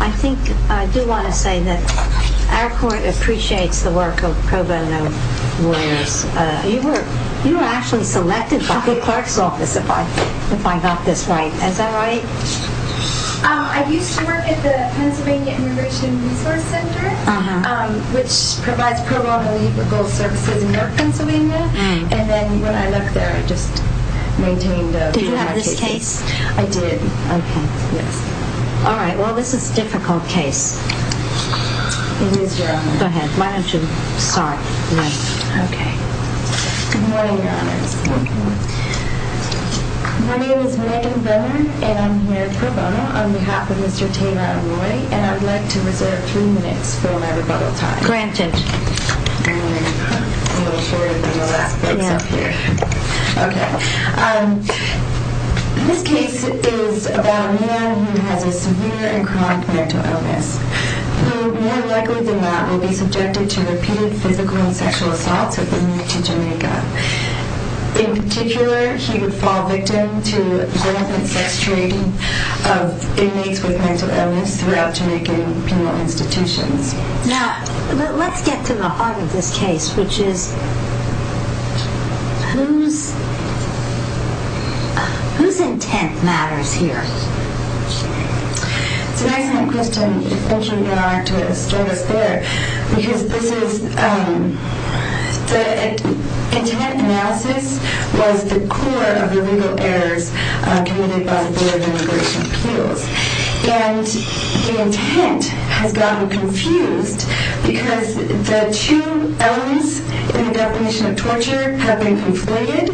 I think I do want to say that our court appreciates the work of pro bono warriors. You were actually selected by the clerk's office if I got this right. Is that right? I used to work at the Pennsylvania Immigration Resource Center, which provides pro bono legal services in North Pennsylvania. And then when I left there, I just maintained... Did you have this case? I did. Okay. Yes. All right. Well, this is a difficult case. It is, Your Honor. Go ahead. Why don't you start? Yes. Okay. Good morning, Your Honors. Good morning. My name is Megan Venner, and I'm here pro bono on behalf of Mr. Taylor Arroyo, and I'd like to reserve three minutes for my rebuttal time. Granted. I'm a little shorter than the last folks up here. Yeah. Okay. This case is about a man who has a severe and chronic mental illness, who more likely than not will be subjected to repeated physical and sexual assaults if they move to Jamaica. In particular, he would fall victim to violent sex trading of inmates with mental illness throughout Jamaican penal institutions. Now, let's get to the heart of this case, which is whose intent matters here? It's an excellent question. Thank you, Your Honor, to start us there. Because this is the intent analysis was the core of the legal errors committed by the Board of Immigration Appeals. And the intent has gotten confused because the two elements in the definition of torture have been conflated.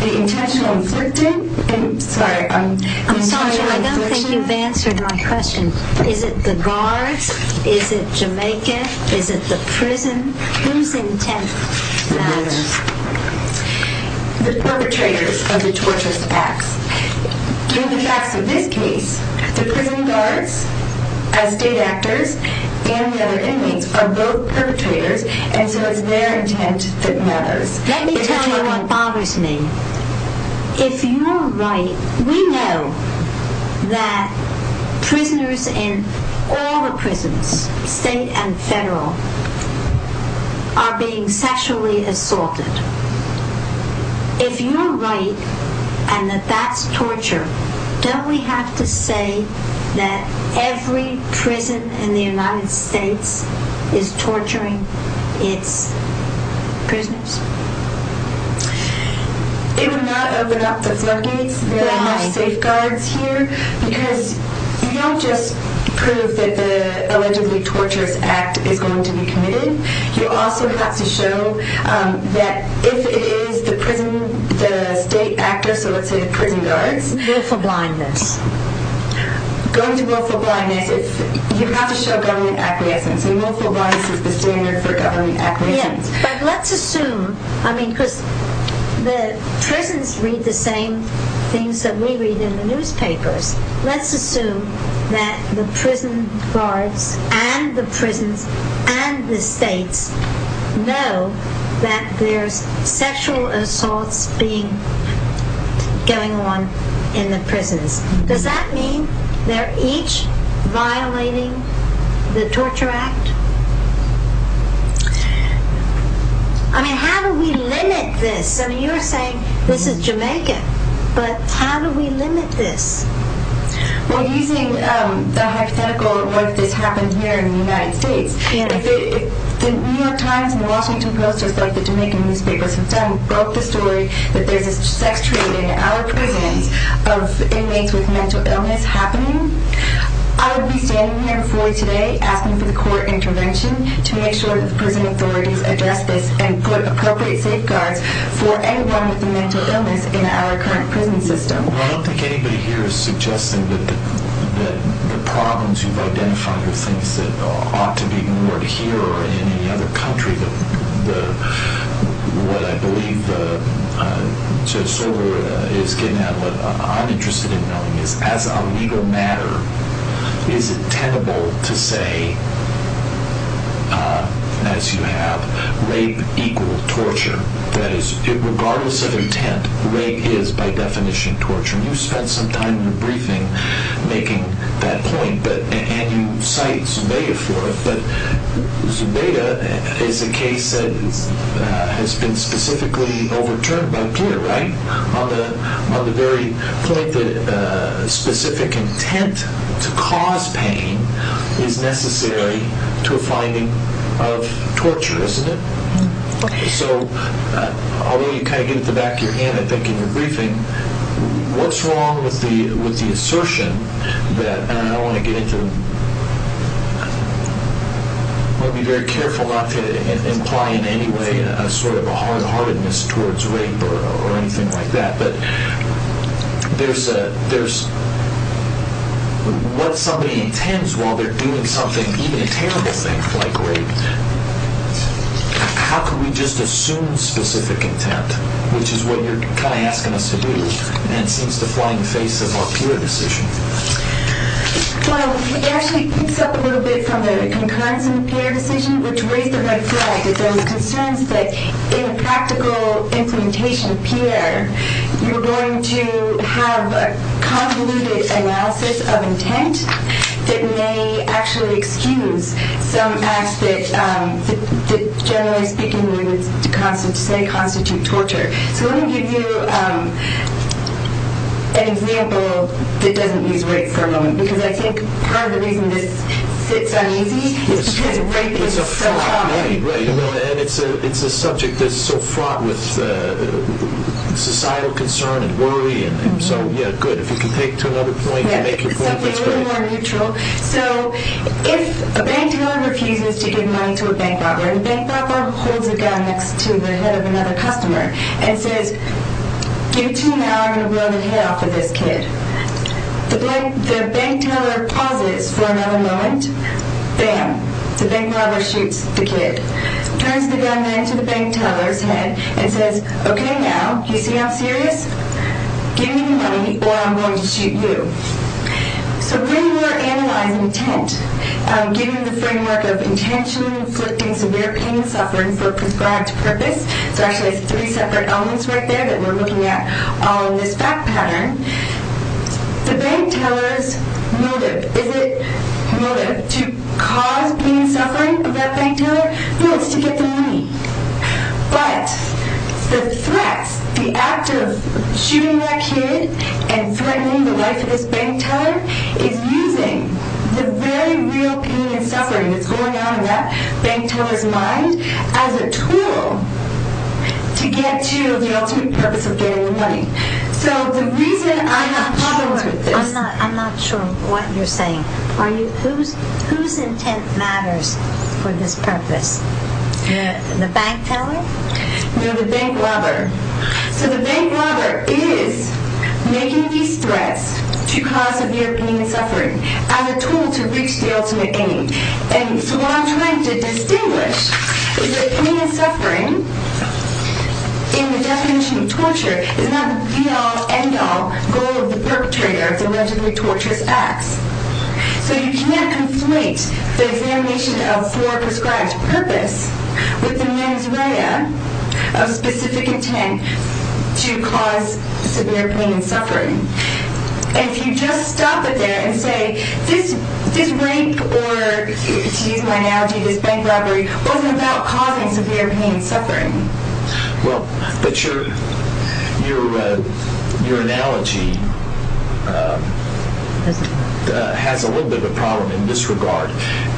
The intentional inflicting and, sorry, the intentional infliction. I'm sorry, I don't think you've answered my question. Is it the guards? Is it Jamaica? Is it the prison? Whose intent matters? The perpetrators of the torturous acts. Through the facts of this case, the prison guards, as state actors, and the other inmates are both perpetrators, and so it's their intent that matters. Let me tell you what bothers me. If you're right, we know that prisoners in all the prisons, state and federal, are being sexually assaulted. If you're right, and that that's torture, don't we have to say that every prison in the United States is torturing its prisoners? They would not open up the floodgates. There are no safeguards here. Because you don't just prove that the allegedly torturous act is going to be committed. You also have to show that if it is the prison, the state actors, so let's say the prison guards. Willful blindness. Going to willful blindness, you have to show government acquiescence, and willful blindness is the standard for government acquiescence. Yeah, but let's assume, I mean, because the prisons read the same things that we read in the newspapers. Let's assume that the prison guards and the prisons and the states know that there's sexual assaults going on in the prisons. Does that mean they're each violating the torture act? I mean, how do we limit this? I mean, you're saying this is Jamaica, but how do we limit this? Well, using the hypothetical, what if this happened here in the United States? If the New York Times and the Washington Post, just like the Jamaican newspapers have done, broke the story that there's a sex trade in our prisons of inmates with mental illness happening, I would be standing here before you today asking for the court intervention to make sure that the prison authorities address this and put appropriate safeguards for anyone with a mental illness in our current prison system. Well, I don't think anybody here is suggesting that the problems you've identified are things that ought to be ignored here or in any other country. What I believe Judge Sorber is getting at, what I'm interested in knowing is, as a legal matter, is it tenable to say, as you have, rape equal torture? That is, regardless of intent, rape is, by definition, torture. And you spent some time in your briefing making that point, and you cite Zubeda for it. But Zubeda is a case that has been specifically overturned by Pierre, right? On the very point that specific intent to cause pain is necessary to a finding of torture, isn't it? So, although you kind of get it in the back of your hand, I think, in your briefing, what's wrong with the assertion that, and I don't want to get into it, I'd be very careful not to imply in any way a sort of a hard-heartedness towards rape or anything like that, but there's what somebody intends while they're doing something, even a terrible thing like rape. How can we just assume specific intent, which is what you're kind of asking us to do, and it seems to fly in the face of our pure decision? Well, it actually creeps up a little bit from the concurrence in the Pierre decision, which raised the red flag that there was concerns that in a practical implementation of Pierre, you're going to have a convoluted analysis of intent that may actually excuse some acts that, generally speaking, say constitute torture. So let me give you an example that doesn't use rape for a moment, because I think part of the reason this sits uneasy is because rape is so common. It's a subject that's so fraught with societal concern and worry, and so, yeah, good. If you can take to another point and make your point, that's great. Something a little more neutral. So, if a bank dealer refuses to give money to a bank robber, and the bank robber holds a gun next to the head of another customer and says, give it to me now or I'm going to blow the head off of this kid. The bank dealer pauses for another moment. Bam, the bank robber shoots the kid. Turns the gun then to the bank dealer's head and says, okay, now, you see how serious? Give me the money or I'm going to shoot you. So when you are analyzing intent, given the framework of intentionally inflicting severe pain and suffering for a prescribed purpose, so actually it's three separate elements right there that we're looking at on this fact pattern, the bank teller's motive, is it motive to cause pain and suffering of that bank teller? No, it's to get the money. But the threat, the act of shooting that kid and threatening the life of this bank teller is using the very real pain and suffering that's going on in that bank teller's mind as a tool to get to the ultimate purpose of getting the money. So the reason I have problems with this... I'm not sure what you're saying. Whose intent matters for this purpose? The bank teller? No, the bank robber. So the bank robber is making these threats to cause severe pain and suffering as a tool to reach the ultimate aim. And so what I'm trying to distinguish is that pain and suffering, in the definition of torture, is not the be-all, end-all goal of the perpetrator of the allegedly torturous acts. So you can't conflate the definition of fore-prescribed purpose with the mens rea of specific intent to cause severe pain and suffering. And if you just stop it there and say, this rape or, to use my analogy, this bank robbery, wasn't about causing severe pain and suffering... But your analogy has a little bit of a problem in this regard,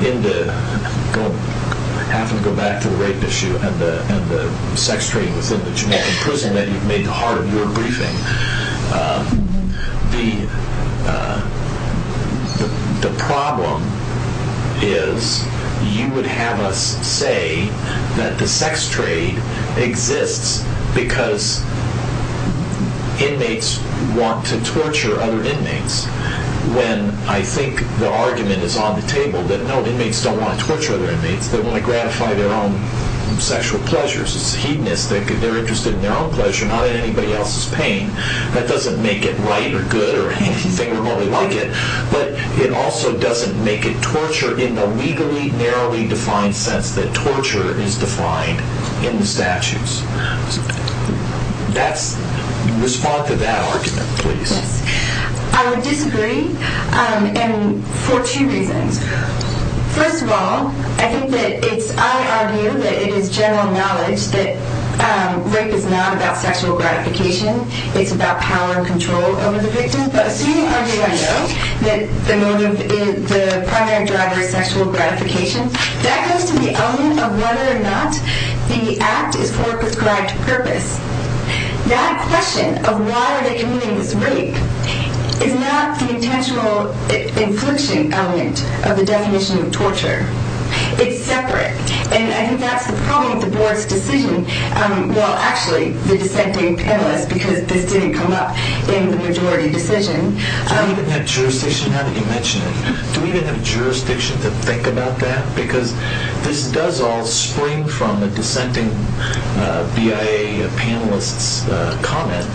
in the... I'm going to have to go back to the rape issue and the sex trade within the Jamaican prison that you've made the heart of your briefing. The problem is you would have us say that the sex trade exists because inmates want to torture other inmates, when I think the argument is on the table that no, inmates don't want to torture other inmates. They want to gratify their own sexual pleasures. It's hedonistic. They're interested in their own pleasure, not in anybody else's pain. That doesn't make it right or good or anything remotely like it. But it also doesn't make it torture in the legally, narrowly defined sense that torture is defined in the statutes. Respond to that argument, please. I would disagree for two reasons. First of all, I think that it's... I argue that it is general knowledge that rape is not about sexual gratification. It's about power and control over the victim. But assuming I know that the motive is... the primary driver is sexual gratification, that goes to the element of whether or not the act is for a prescribed purpose. That question of why are they committing this rape is not the intentional infliction element of the definition of torture. It's separate. And I think that's the problem with the board's decision. Well, actually, the dissenting panelists, because this didn't come up in the majority decision. Do we even have jurisdiction? How did you mention it? Do we even have jurisdiction to think about that? Because this does all spring from the dissenting BIA panelists' comment.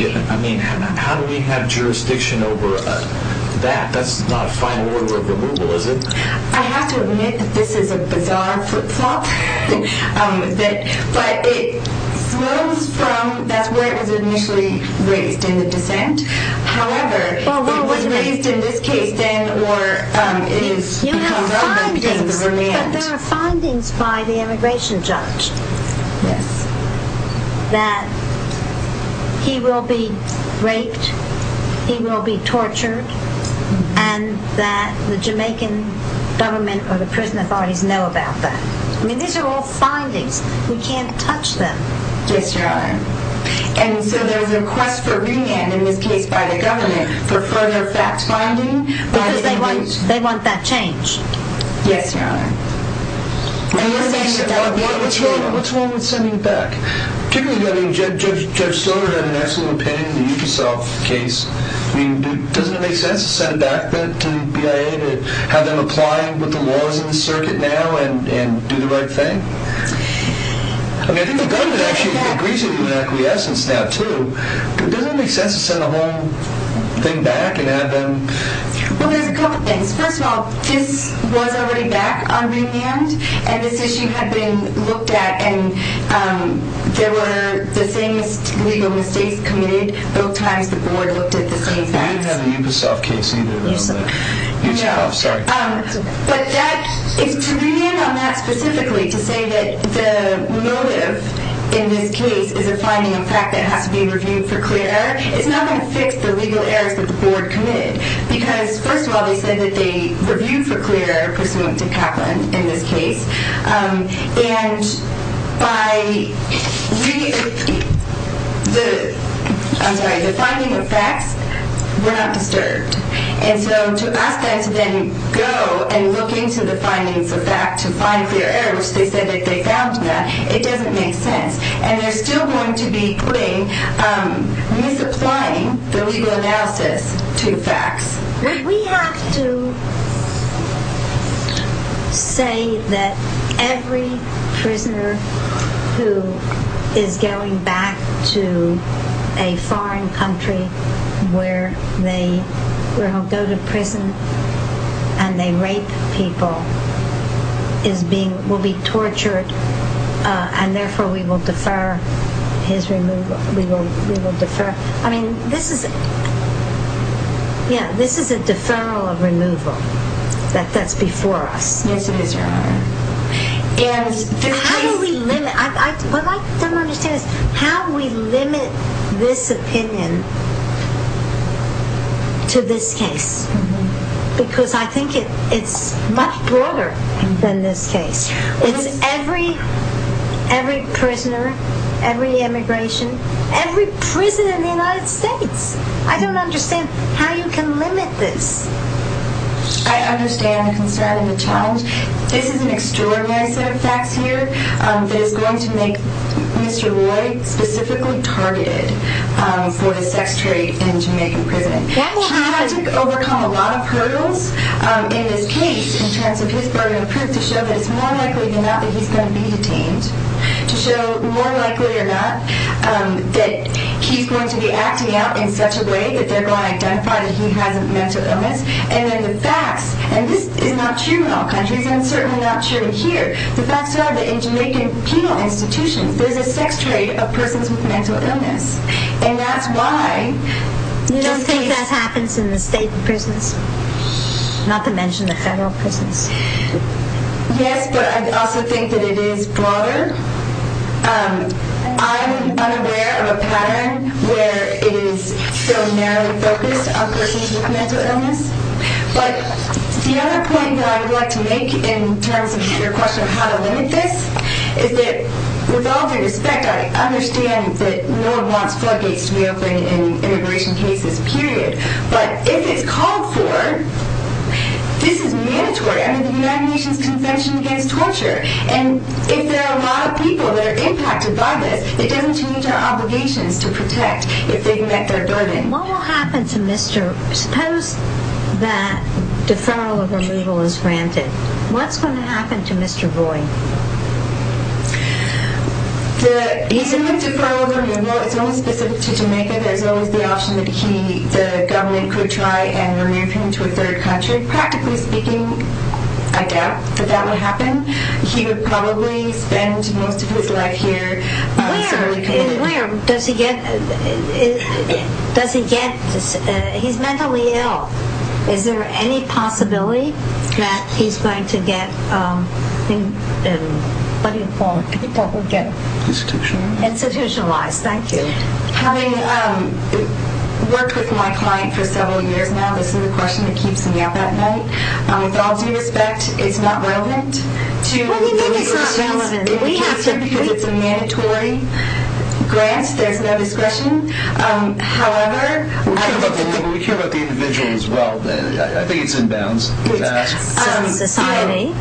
I mean, how do we have jurisdiction over that? That's not a final order of removal, is it? I have to admit that this is a bizarre flip-flop. But it flows from... That's where it was initially raised, in the dissent. However, it was raised in this case, then, or it has become relevant because of the remand. But there are findings by the immigration judge that he will be raped, he will be tortured, and that the Jamaican government or the prison authorities know about that. I mean, these are all findings. We can't touch them. Yes, Your Honor. And so there's a request for remand in this case by the government for further fact-finding... Because they want that changed. Yes, Your Honor. What's wrong with sending it back? Particularly, Judge Stoner had an excellent opinion in the Ubisoft case. I mean, doesn't it make sense to send it back to BIA to have them apply what the law is in the circuit now and do the right thing? I mean, I think the government actually agrees with you in acquiescence now, too. Doesn't it make sense to send the whole thing back and have them... Well, there's a couple things. First of all, this was already back on remand, and this issue had been looked at, and there were the same legal mistakes committed. Both times the board looked at the same facts. I didn't have the Ubisoft case either. No. Sorry. But to remand on that specifically, to say that the motive in this case is a finding of fact that has to be reviewed for clear, it's not going to fix the legal errors that the board committed. Because, first of all, they said that they reviewed for clear, pursuant to Kaplan, in this case. And by... I'm sorry. The finding of facts were not disturbed. And so to ask them to then go and look into the findings of fact to find clear error, which they said that they found that, it doesn't make sense. And they're still going to be putting... We have to say that every prisoner who is going back to a foreign country where they go to prison and they rape people will be tortured, and therefore we will defer his removal. We will defer... I mean, this is... Yeah, this is a deferral of removal. That's before us. Yes, it is, Your Honor. And how do we limit... What I don't understand is how do we limit this opinion to this case? Because I think it's much broader than this case. It's every prisoner, every immigration, every prisoner in the United States. I don't understand how you can limit this. I understand the concern and the challenge. This is an extraordinary set of facts here that is going to make Mr. Roy specifically targeted for his sex trade in a Jamaican prison. He will have to overcome a lot of hurdles in this case in terms of his burden of proof to show that it's more likely than not that he's going to be detained, to show, more likely than not, that he's going to be acting out in such a way that they're going to identify that he has a mental illness. And then the facts, and this is not true in all countries, and it's certainly not true here, the facts are that in Jamaican penal institutions there's a sex trade of persons with mental illness. And that's why... You don't think that happens in the state prisons? Not to mention the federal prisons. Yes, but I also think that it is broader. I'm unaware of a pattern where it is so narrowly focused on persons with mental illness. But the other point that I would like to make in terms of your question of how to limit this is that, with all due respect, I understand that NOAA wants floodgates to be open in immigration cases, period. But if it's called for, this is mandatory. I mean, the United Nations Convention Against Torture. And if there are a lot of people that are impacted by this, it doesn't change our obligations to protect if they've met their burden. What will happen to Mr... Suppose that deferral of removal is granted. What's going to happen to Mr. Boyd? The issue of deferral of removal, it's only specific to Jamaica. There's always the option that the government could try and remove him to a third country. Practically speaking, I doubt that that would happen. He would probably spend most of his life here. Where does he get... Does he get... He's mentally ill. Is there any possibility that he's going to get... Institutionalized. Institutionalized, thank you. Having worked with my client for several years now, this is a question that keeps me up at night. With all due respect, it's not relevant to... We think it's not relevant. ...because it's a mandatory grant. There's no discretion. However... We care about the individual as well. I think it's inbounds. Society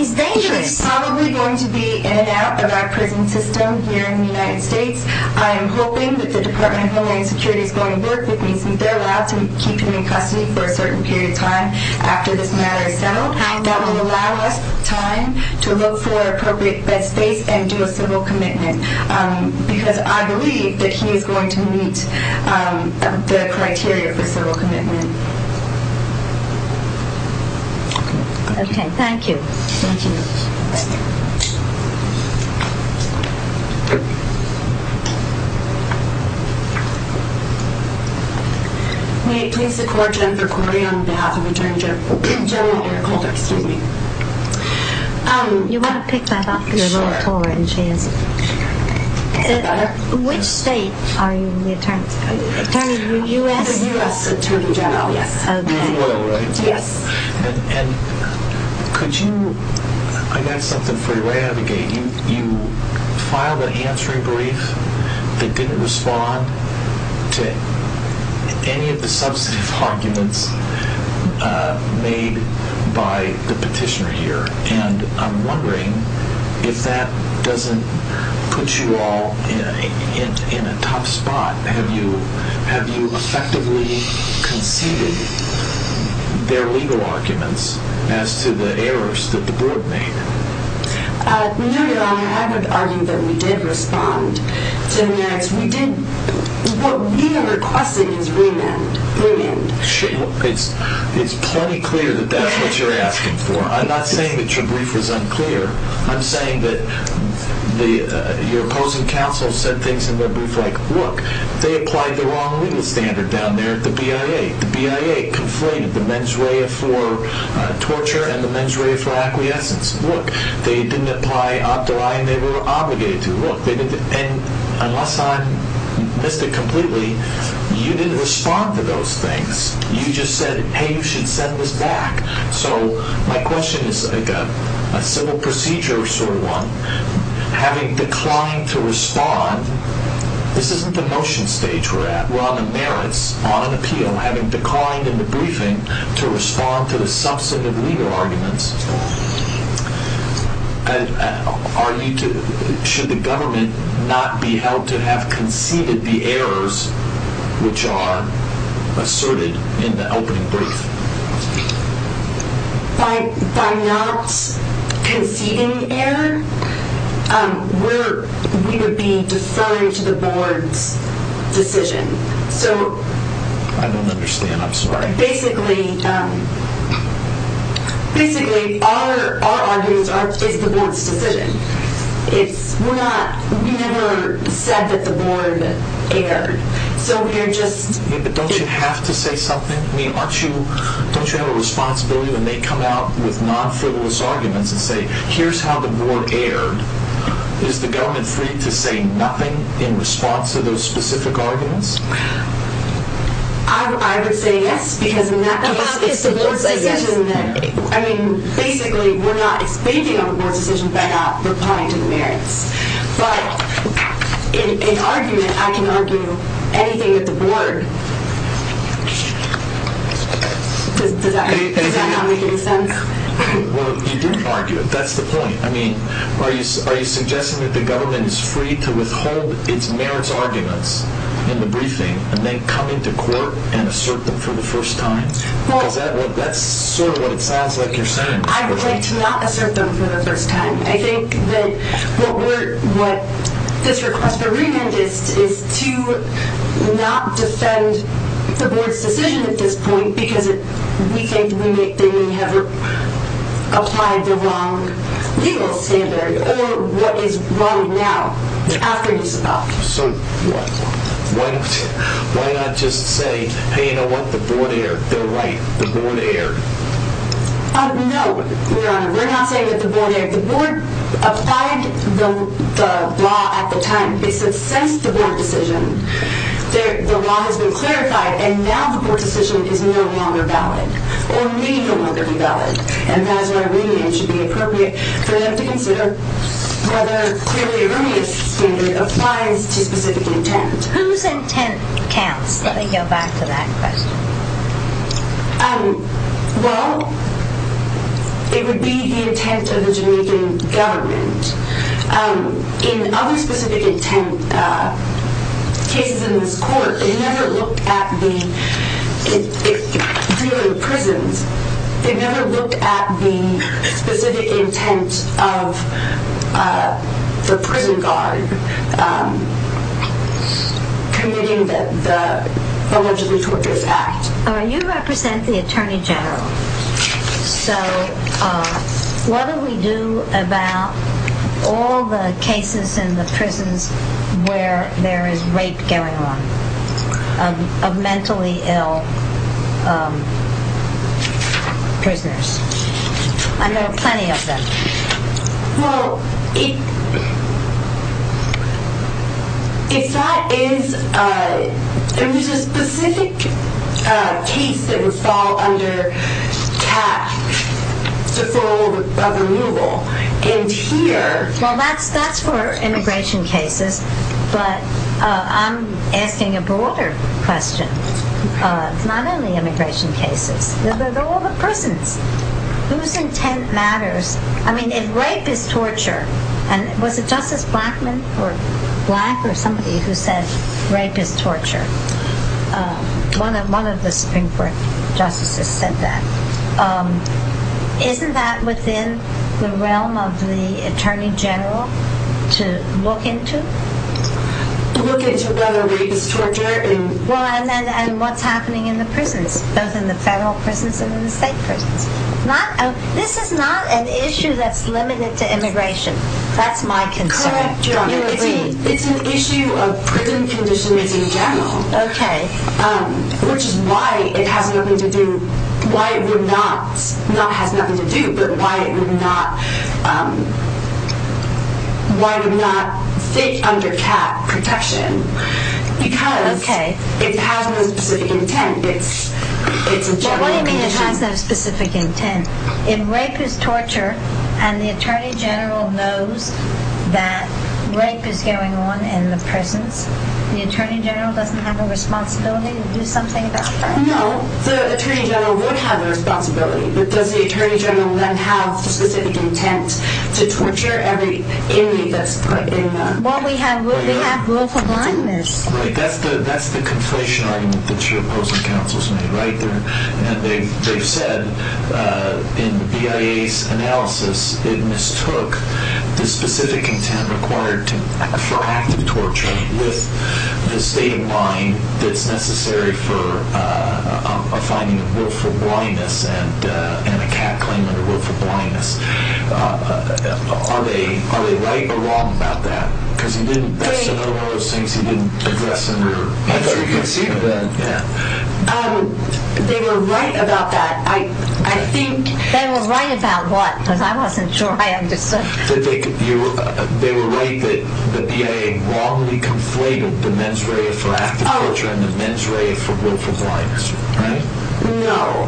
is dangerous. He is probably going to be in and out of our prison system here in the United States. I am hoping that the Department of Homeland Security is going to work with me, since they're allowed to keep him in custody for a certain period of time after this matter is settled. That will allow us time to look for appropriate bed space and do a civil commitment, because I believe that he is going to meet the criteria for civil commitment. Okay, thank you. Thank you. May it please the Court, Jennifer Cordray, on behalf of Attorney General Eric Holder. Excuse me. You want to pick that up? Sure. Which state are you in? Attorney U.S.? U.S. Attorney General. Yes. Could you... I got something for you. You filed an answering brief that didn't respond to any of the substantive arguments made by the petitioner here, and I'm wondering if that doesn't put you all in a tough spot. Have you effectively conceded their legal arguments as to the errors that the board made? No, Your Honor, I would argue that we did respond to the merits. What we requested is remand. It's plenty clear that that's what you're asking for. I'm not saying that your brief was unclear. I'm saying that your opposing counsel said things in their brief like, look, they applied the wrong legal standard down there at the BIA. The BIA conflated the mens rea for torture and the mens rea for acquiescence. Look, they didn't apply op de loi, and they were obligated to. Look, unless I missed it completely, you didn't respond to those things. You just said, hey, you should send this back. So my question is like a civil procedure sort of one. Having declined to respond, this isn't the motion stage we're at. We're on the merits, on an appeal, having declined in the briefing to respond to the substantive legal arguments. Should the government not be held to have conceded the errors which are asserted in the opening brief? By not conceding the error, we would be deferring to the board's decision. I don't understand. I'm sorry. Basically, our argument is the board's decision. We never said that the board erred. Don't you have to say something? Don't you have a responsibility when they come out with non-frivolous arguments and say, here's how the board erred, is the government free to say nothing in response to those specific arguments? I would say yes, because in that case, it's the board's decision. Basically, we're not expanding on the board's decision by not replying to the merits. But in argument, I can argue anything with the board. Does that not make any sense? Well, you didn't argue it. That's the point. Are you suggesting that the government is free to withhold its merits arguments in the briefing and then come into court and assert them for the first time? Because that's sort of what it sounds like you're saying. I would like to not assert them for the first time. I think that what this request for remand is to not defend the board's decision at this point because we think we have applied the wrong legal standard or what is wrong now, after he's stopped. So why not just say, hey, you know what? The board erred. They're right. The board erred. No, Your Honor. We're not saying that the board erred. The board applied the law at the time. They said since the board decision, the law has been clarified, and now the board decision is no longer valid or may no longer be valid. And that is why remand should be appropriate for them to consider whether clearly a remand standard applies to specific intent. Whose intent counts, if we go back to that question? Well, it would be the intent of the Jamaican government. In other specific intent cases in this court, they never looked at the prisons. They never looked at the specific intent of the prison guard committing the allegedly torturous act. You represent the Attorney General. So what do we do about all the cases in the prisons where there is rape going on of mentally ill prisoners? I know plenty of them. Well, if that is... There was a specific case that would fall under tax, deferral of removal, and here... Well, that's for immigration cases, but I'm asking a broader question. It's not only immigration cases. They're all the prisons. Whose intent matters? I mean, if rape is torture, and was it Justice Blackman or Black or somebody who said rape is torture? One of the Supreme Court justices said that. Isn't that within the realm of the Attorney General to look into? Look into whether rape is torture and... Well, and what's happening in the prisons, both in the federal prisons and in the state prisons? This is not an issue that's limited to immigration. That's my concern. Correct, Your Honor. It's an issue of prison conditions in general, which is why it has nothing to do... Why it would not... Not has nothing to do, but why it would not... under cap protection because it has no specific intent. It's a general condition. What do you mean it has no specific intent? If rape is torture and the Attorney General knows that rape is going on in the prisons, the Attorney General doesn't have a responsibility to do something about that? No, the Attorney General would have a responsibility, but does the Attorney General then have the specific intent to torture every inmate that's put in the... Well, we have willful blindness. Right, that's the conflation argument that your opposing counsels made, right? They've said in the BIA's analysis it mistook the specific intent required for active torture with the state of mind that's necessary for a finding of willful blindness and a cap claim under willful blindness. Are they right or wrong about that? Because that's another one of those things you didn't address in your interview. I thought you could see that. They were right about that. I think... They were right about what? Because I wasn't sure I understood. They were right that the BIA wrongly conflated the mens rea for active torture and the mens rea for willful blindness, right? No.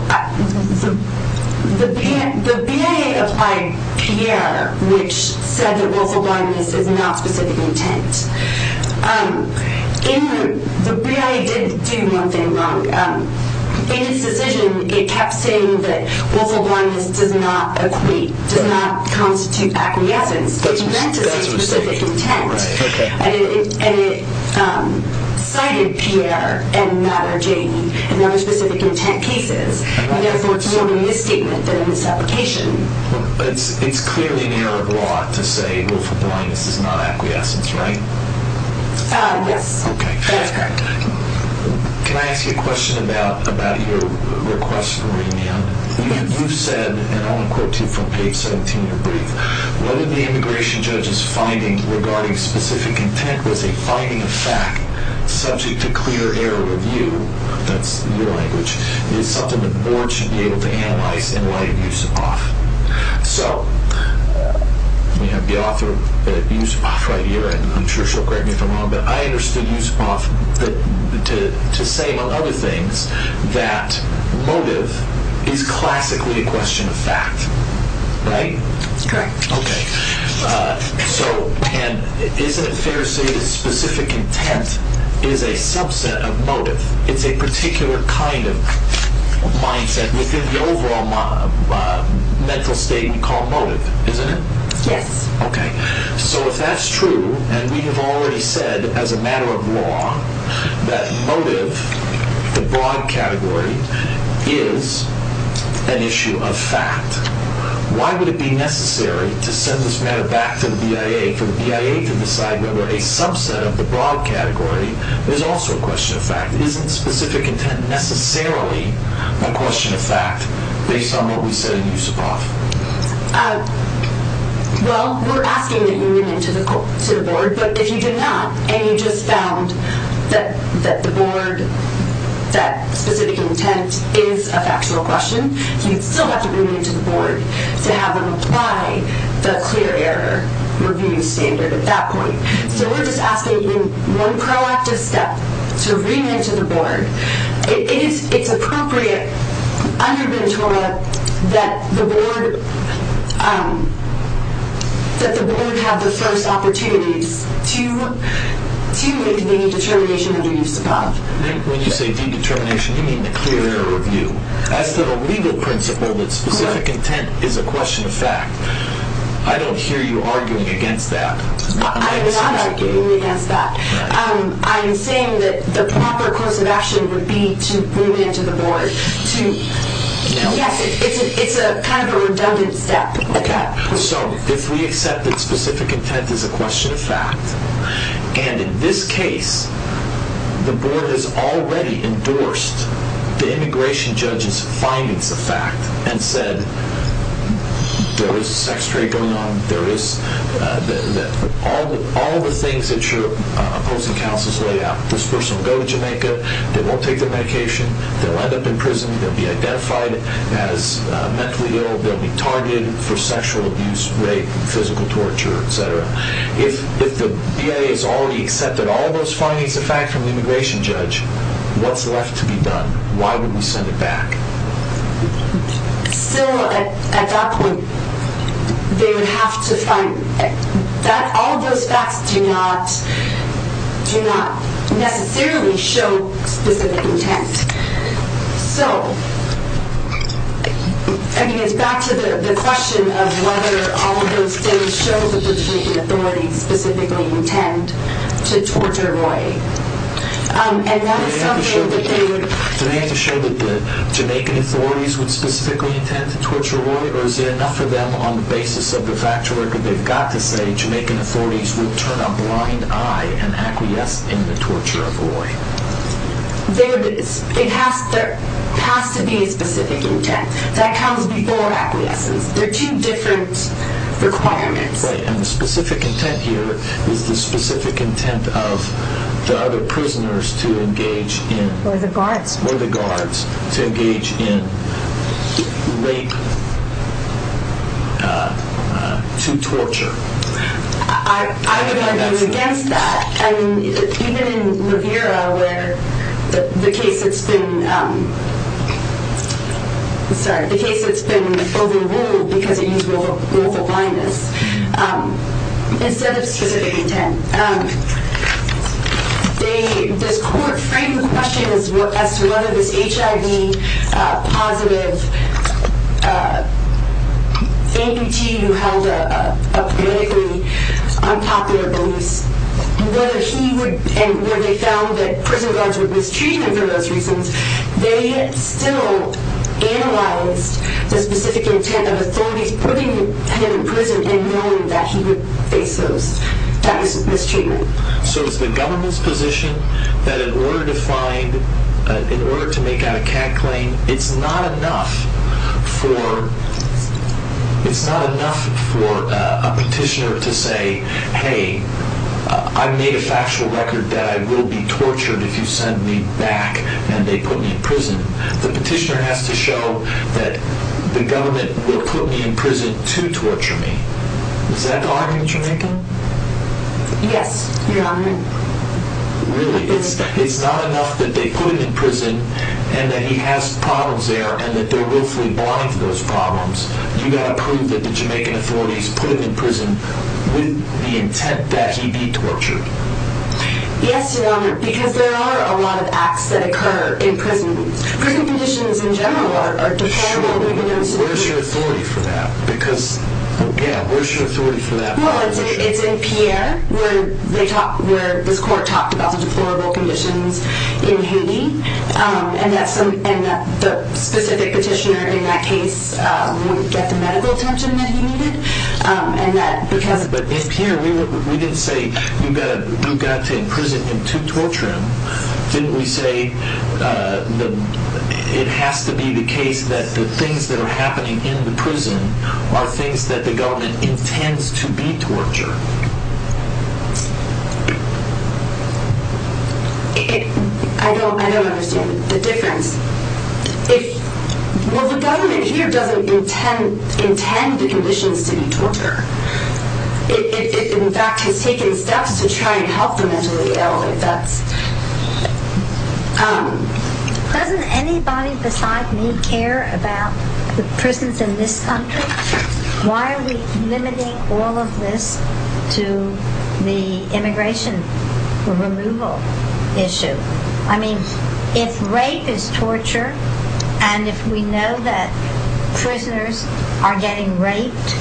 The BIA applied PIERRE, which said that willful blindness is not specific intent. The BIA did do one thing wrong. In its decision, it kept saying that willful blindness does not equate, does not constitute acquiescence. It meant to say specific intent. And it cited PIERRE and Mother Janie and other specific intent cases. And therefore, it's more of a misstatement than a misapplication. It's clearly an error of law to say willful blindness is not acquiescence, right? Ah, yes. Okay. That's correct. Can I ask you a question about your request for remand? You said, and I'll quote you from page 17 of your brief, what did the immigration judge's finding regarding specific intent? Was a finding of fact subject to clear error review that's your language, is something the board should be able to analyze in light of use of auth. So, we have the author, use of auth, right here, and I'm sure she'll correct me if I'm wrong, but I understood use of auth to say among other things that motive is classically a question of fact, right? Correct. Okay. So, and isn't it fair to say that specific intent is a subset of motive? It's a particular kind of mindset within the overall mental state we call motive, isn't it? Yes. Okay. So, if that's true, and we have already said as a matter of law that motive, the broad category, is an issue of fact, why would it be necessary to send this matter back to the BIA for the BIA to decide whether a subset of the broad category is also a question of fact? Isn't specific intent necessarily a question of fact based on what we said in use of auth? Well, we're asking that you bring it to the board, but if you did not, and you just found that the board, that specific intent is a factual question, you'd still have to bring it to the board to have them apply the clear error review standard at that point. So, we're just asking you, in one proactive step, to bring it to the board. It's appropriate under Ventura that the board have the first opportunities to make the determination of the use of auth. When you say the determination, you mean the clear error review. As to the legal principle that specific intent is a question of fact, I don't hear you arguing against that. I'm not arguing against that. I'm saying that the proper course of action would be to bring it to the board. Yes, it's kind of a redundant step. Okay. So, if we accept that specific intent is a question of fact, and in this case, the board has already endorsed the immigration judge's findings of fact and said, there is a sex trade going on, all the things that your opposing counsels lay out, this person will go to Jamaica, they won't take their medication, they'll end up in prison, they'll be identified as mentally ill, they'll be targeted for sexual abuse, rape, physical torture, etc. If the BIA has already accepted all those findings of fact from the immigration judge, what's left to be done? Why would we send it back? So, at that point, they would have to find that all those facts do not necessarily show specific intent. So, I mean, it's back to the question of whether all of those things show that the Jamaican authorities specifically intend to torture Roy. Do they have to show that the Jamaican authorities would specifically intend to torture Roy, or is it enough for them on the basis of the fact that they've got to say Jamaican authorities will turn a blind eye and acquiesce in the torture of Roy? There it is. There has to be a specific intent. That comes before acquiescence. They're two different requirements. Right, and the specific intent here is the specific intent of the other prisoners to engage in... Or the guards. Or the guards to engage in rape to torture. I would argue against that. And even in Rivera, where the case that's been... Sorry, the case that's been overruled because it used global blindness, instead of specific intent, this court framed the question as to whether this HIV-positive amputee who held a politically unpopular belief, and where they found that prison guards would mistreat him for those reasons, they still analyzed the specific intent of authorities putting him in prison and knowing that he would face those types of mistreatment. So it's the government's position that in order to make out a CAD claim, it's not enough for a petitioner to say, hey, I made a factual record that I will be tortured if you send me back and they put me in prison. The petitioner has to show that the government will put me in prison to torture me. Is that the argument you're making? Yes, Your Honor. Really, it's not enough that they put him in prison and that he has problems there and that they're willfully blind to those problems. You've got to prove that the Jamaican authorities put him in prison with the intent that he be tortured. Yes, Your Honor, because there are a lot of acts that occur in prisons. Prison conditions in general are deplorable. Sure, but where's your authority for that? Because, again, where's your authority for that? Well, it's in Pierre, where this court talked about the deplorable conditions in Haiti and that the specific petitioner in that case wouldn't get the medical attention that he needed. But in Pierre, we didn't say you've got to imprison him to torture him. Didn't we say it has to be the case that the things that are happening in the prison are things that the government intends to be torture? I don't understand the difference. Well, the government here doesn't intend the conditions to be torture. It, in fact, has taken steps to try and help the mentally ill. Doesn't anybody besides me care about the prisons in this country? Why are we limiting all of this to the immigration removal issue? I mean, if rape is torture and if we know that prisoners are getting raped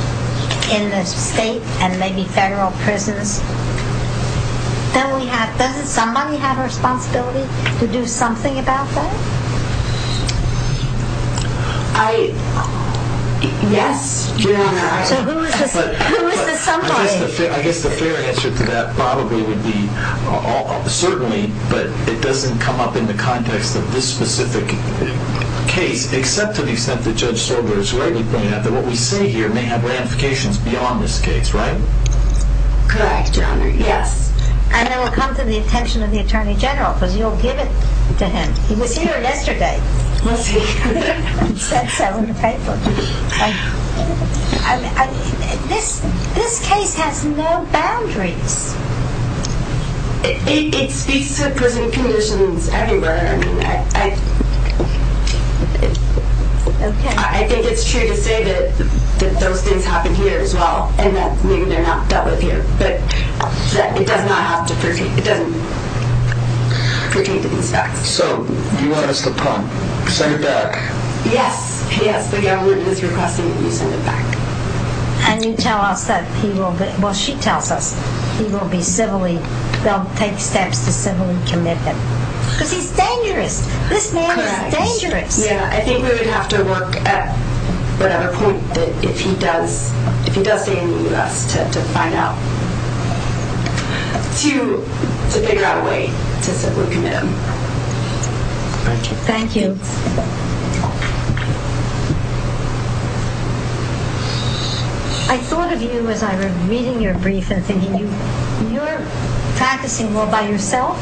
in the state and maybe federal prisons, then doesn't somebody have a responsibility to do something about that? Yes, you're right. So who is the somebody? I guess the fair answer to that probably would be certainly, but it doesn't come up in the context of this specific case, except to the extent that Judge Sorger is rightly pointing out that what we say here may have ramifications beyond this case, right? Correct, Your Honor, yes. And it will come to the attention of the Attorney General, because you'll give it to him. He was here yesterday. Was he? He said so in the paper. This case has no boundaries. It speaks to prison conditions everywhere. I think it's true to say that those things happen here as well and that maybe they're not dealt with here, but it doesn't pertain to these facts. So you want us to send it back? Yes, yes. The government is requesting that you send it back. And you tell us that he will be, well, she tells us, he will be civilly, they'll take steps to civilly commit him. Because he's dangerous. This man is dangerous. Correct. Yeah, I think we would have to work at whatever point, if he does stay in the U.S., to find out, to figure out a way to civilly commit him. Thank you. I thought of you as I was reading your brief and thinking, you're practicing law by yourself,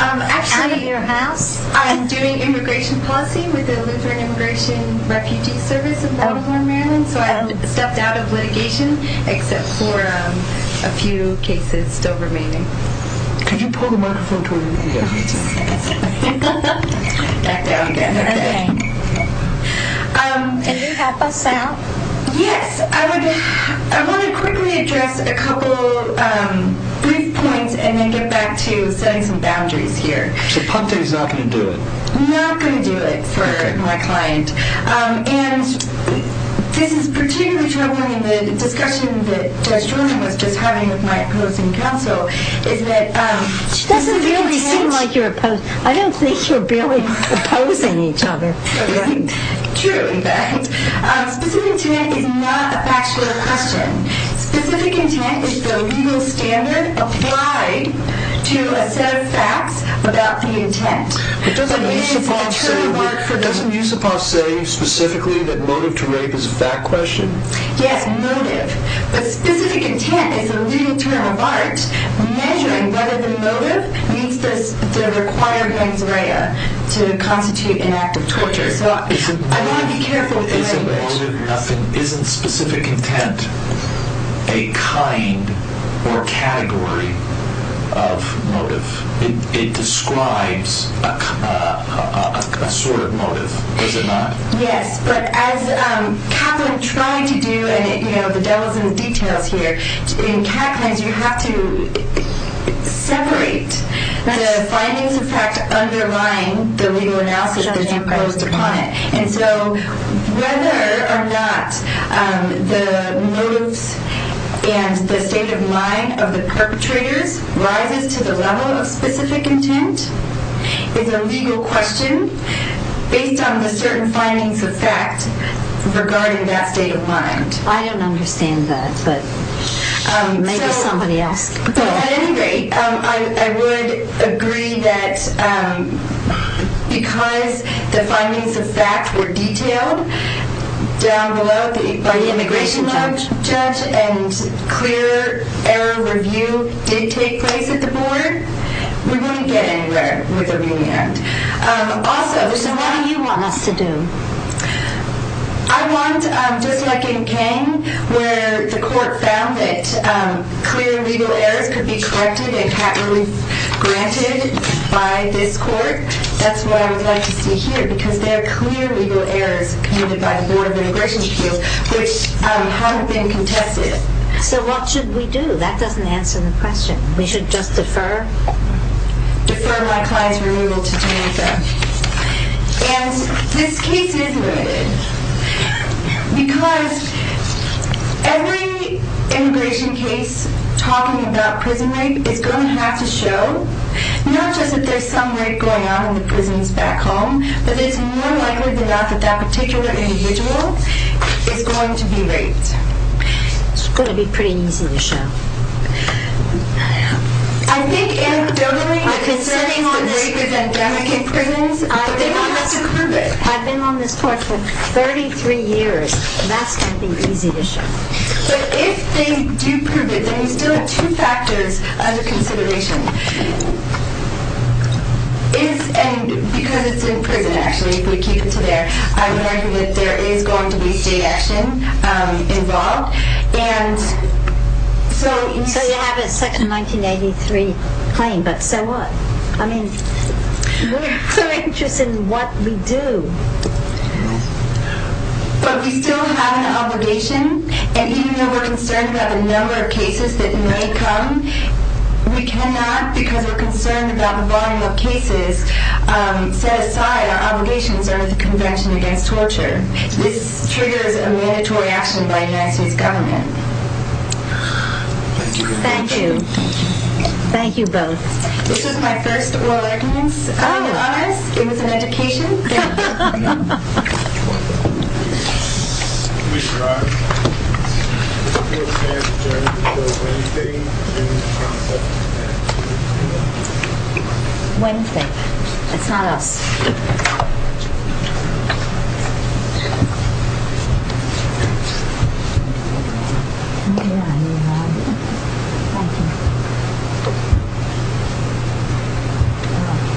out of your house? Actually, I'm doing immigration policy with the Lutheran Immigration Refugee Service of Baltimore, Maryland. So I've stepped out of litigation, except for a few cases still remaining. Could you pull the microphone toward me? Can you help us out? Yes. I want to quickly address a couple brief points and then get back to setting some boundaries here. So Punte's not going to do it? Not going to do it for my client. And this is particularly troubling in the discussion that Judge Jordan was just having with my opposing counsel, is that this is intent. She doesn't really seem like you're opposing. I don't think you're barely opposing each other. True, in fact. Specific intent is not a factual question. Specific intent is the legal standard applied to a set of facts about the intent. But doesn't Yusupov say specifically that motive to rape is a fact question? Yes, motive. But specific intent is the legal term of art measuring whether the motive needs the required mens rea to constitute an act of torture. So I want to be careful with the language. Isn't specific intent a kind or category of motive? It describes a sort of motive, does it not? Yes, but as Catlin tried to do, and the devil's in the details here, in Catlin's you have to separate the findings of fact underlying the legal analysis imposed upon it. And so whether or not the motives and the state of mind of the perpetrators rises to the level of specific intent is a legal question based on the certain findings of fact regarding that state of mind. I don't understand that, but maybe somebody else can. At any rate, I would agree that because the findings of fact were detailed down below by the immigration judge and clear error review did take place at the board, we wouldn't get anywhere with a remand. So what do you want us to do? I want, just like in King, where the court found that clear legal errors could be corrected and cat relief granted by this court, that's what I would like to see here because there are clear legal errors committed by the Board of Immigration Appeals which haven't been contested. So what should we do? That doesn't answer the question. We should just defer? Defer my client's removal to Danica. And this case is limited because every immigration case talking about prison rape is going to have to show not just that there's some rape going on in the prisons back home, but it's more likely than not that that particular individual is going to be raped. It's going to be pretty easy to show. I think anecdotally, considering the rape is endemic in prisons, they don't have to prove it. I've been on this court for 33 years. That's going to be easy to show. But if they do prove it, then you still have two factors under consideration. And because it's in prison, actually, if we keep it to there, I would argue that there is going to be state action involved. And so... So you have a second 1983 claim, but so what? I mean, we're so interested in what we do. But we still have an obligation. And even though we're concerned about the number of cases that may come, we cannot, because we're concerned about the volume of cases, set aside our obligations under the Convention Against Torture. This triggers a mandatory action by the United States government. Thank you. Thank you both. This is my first oral evidence. It was an education. Thank you.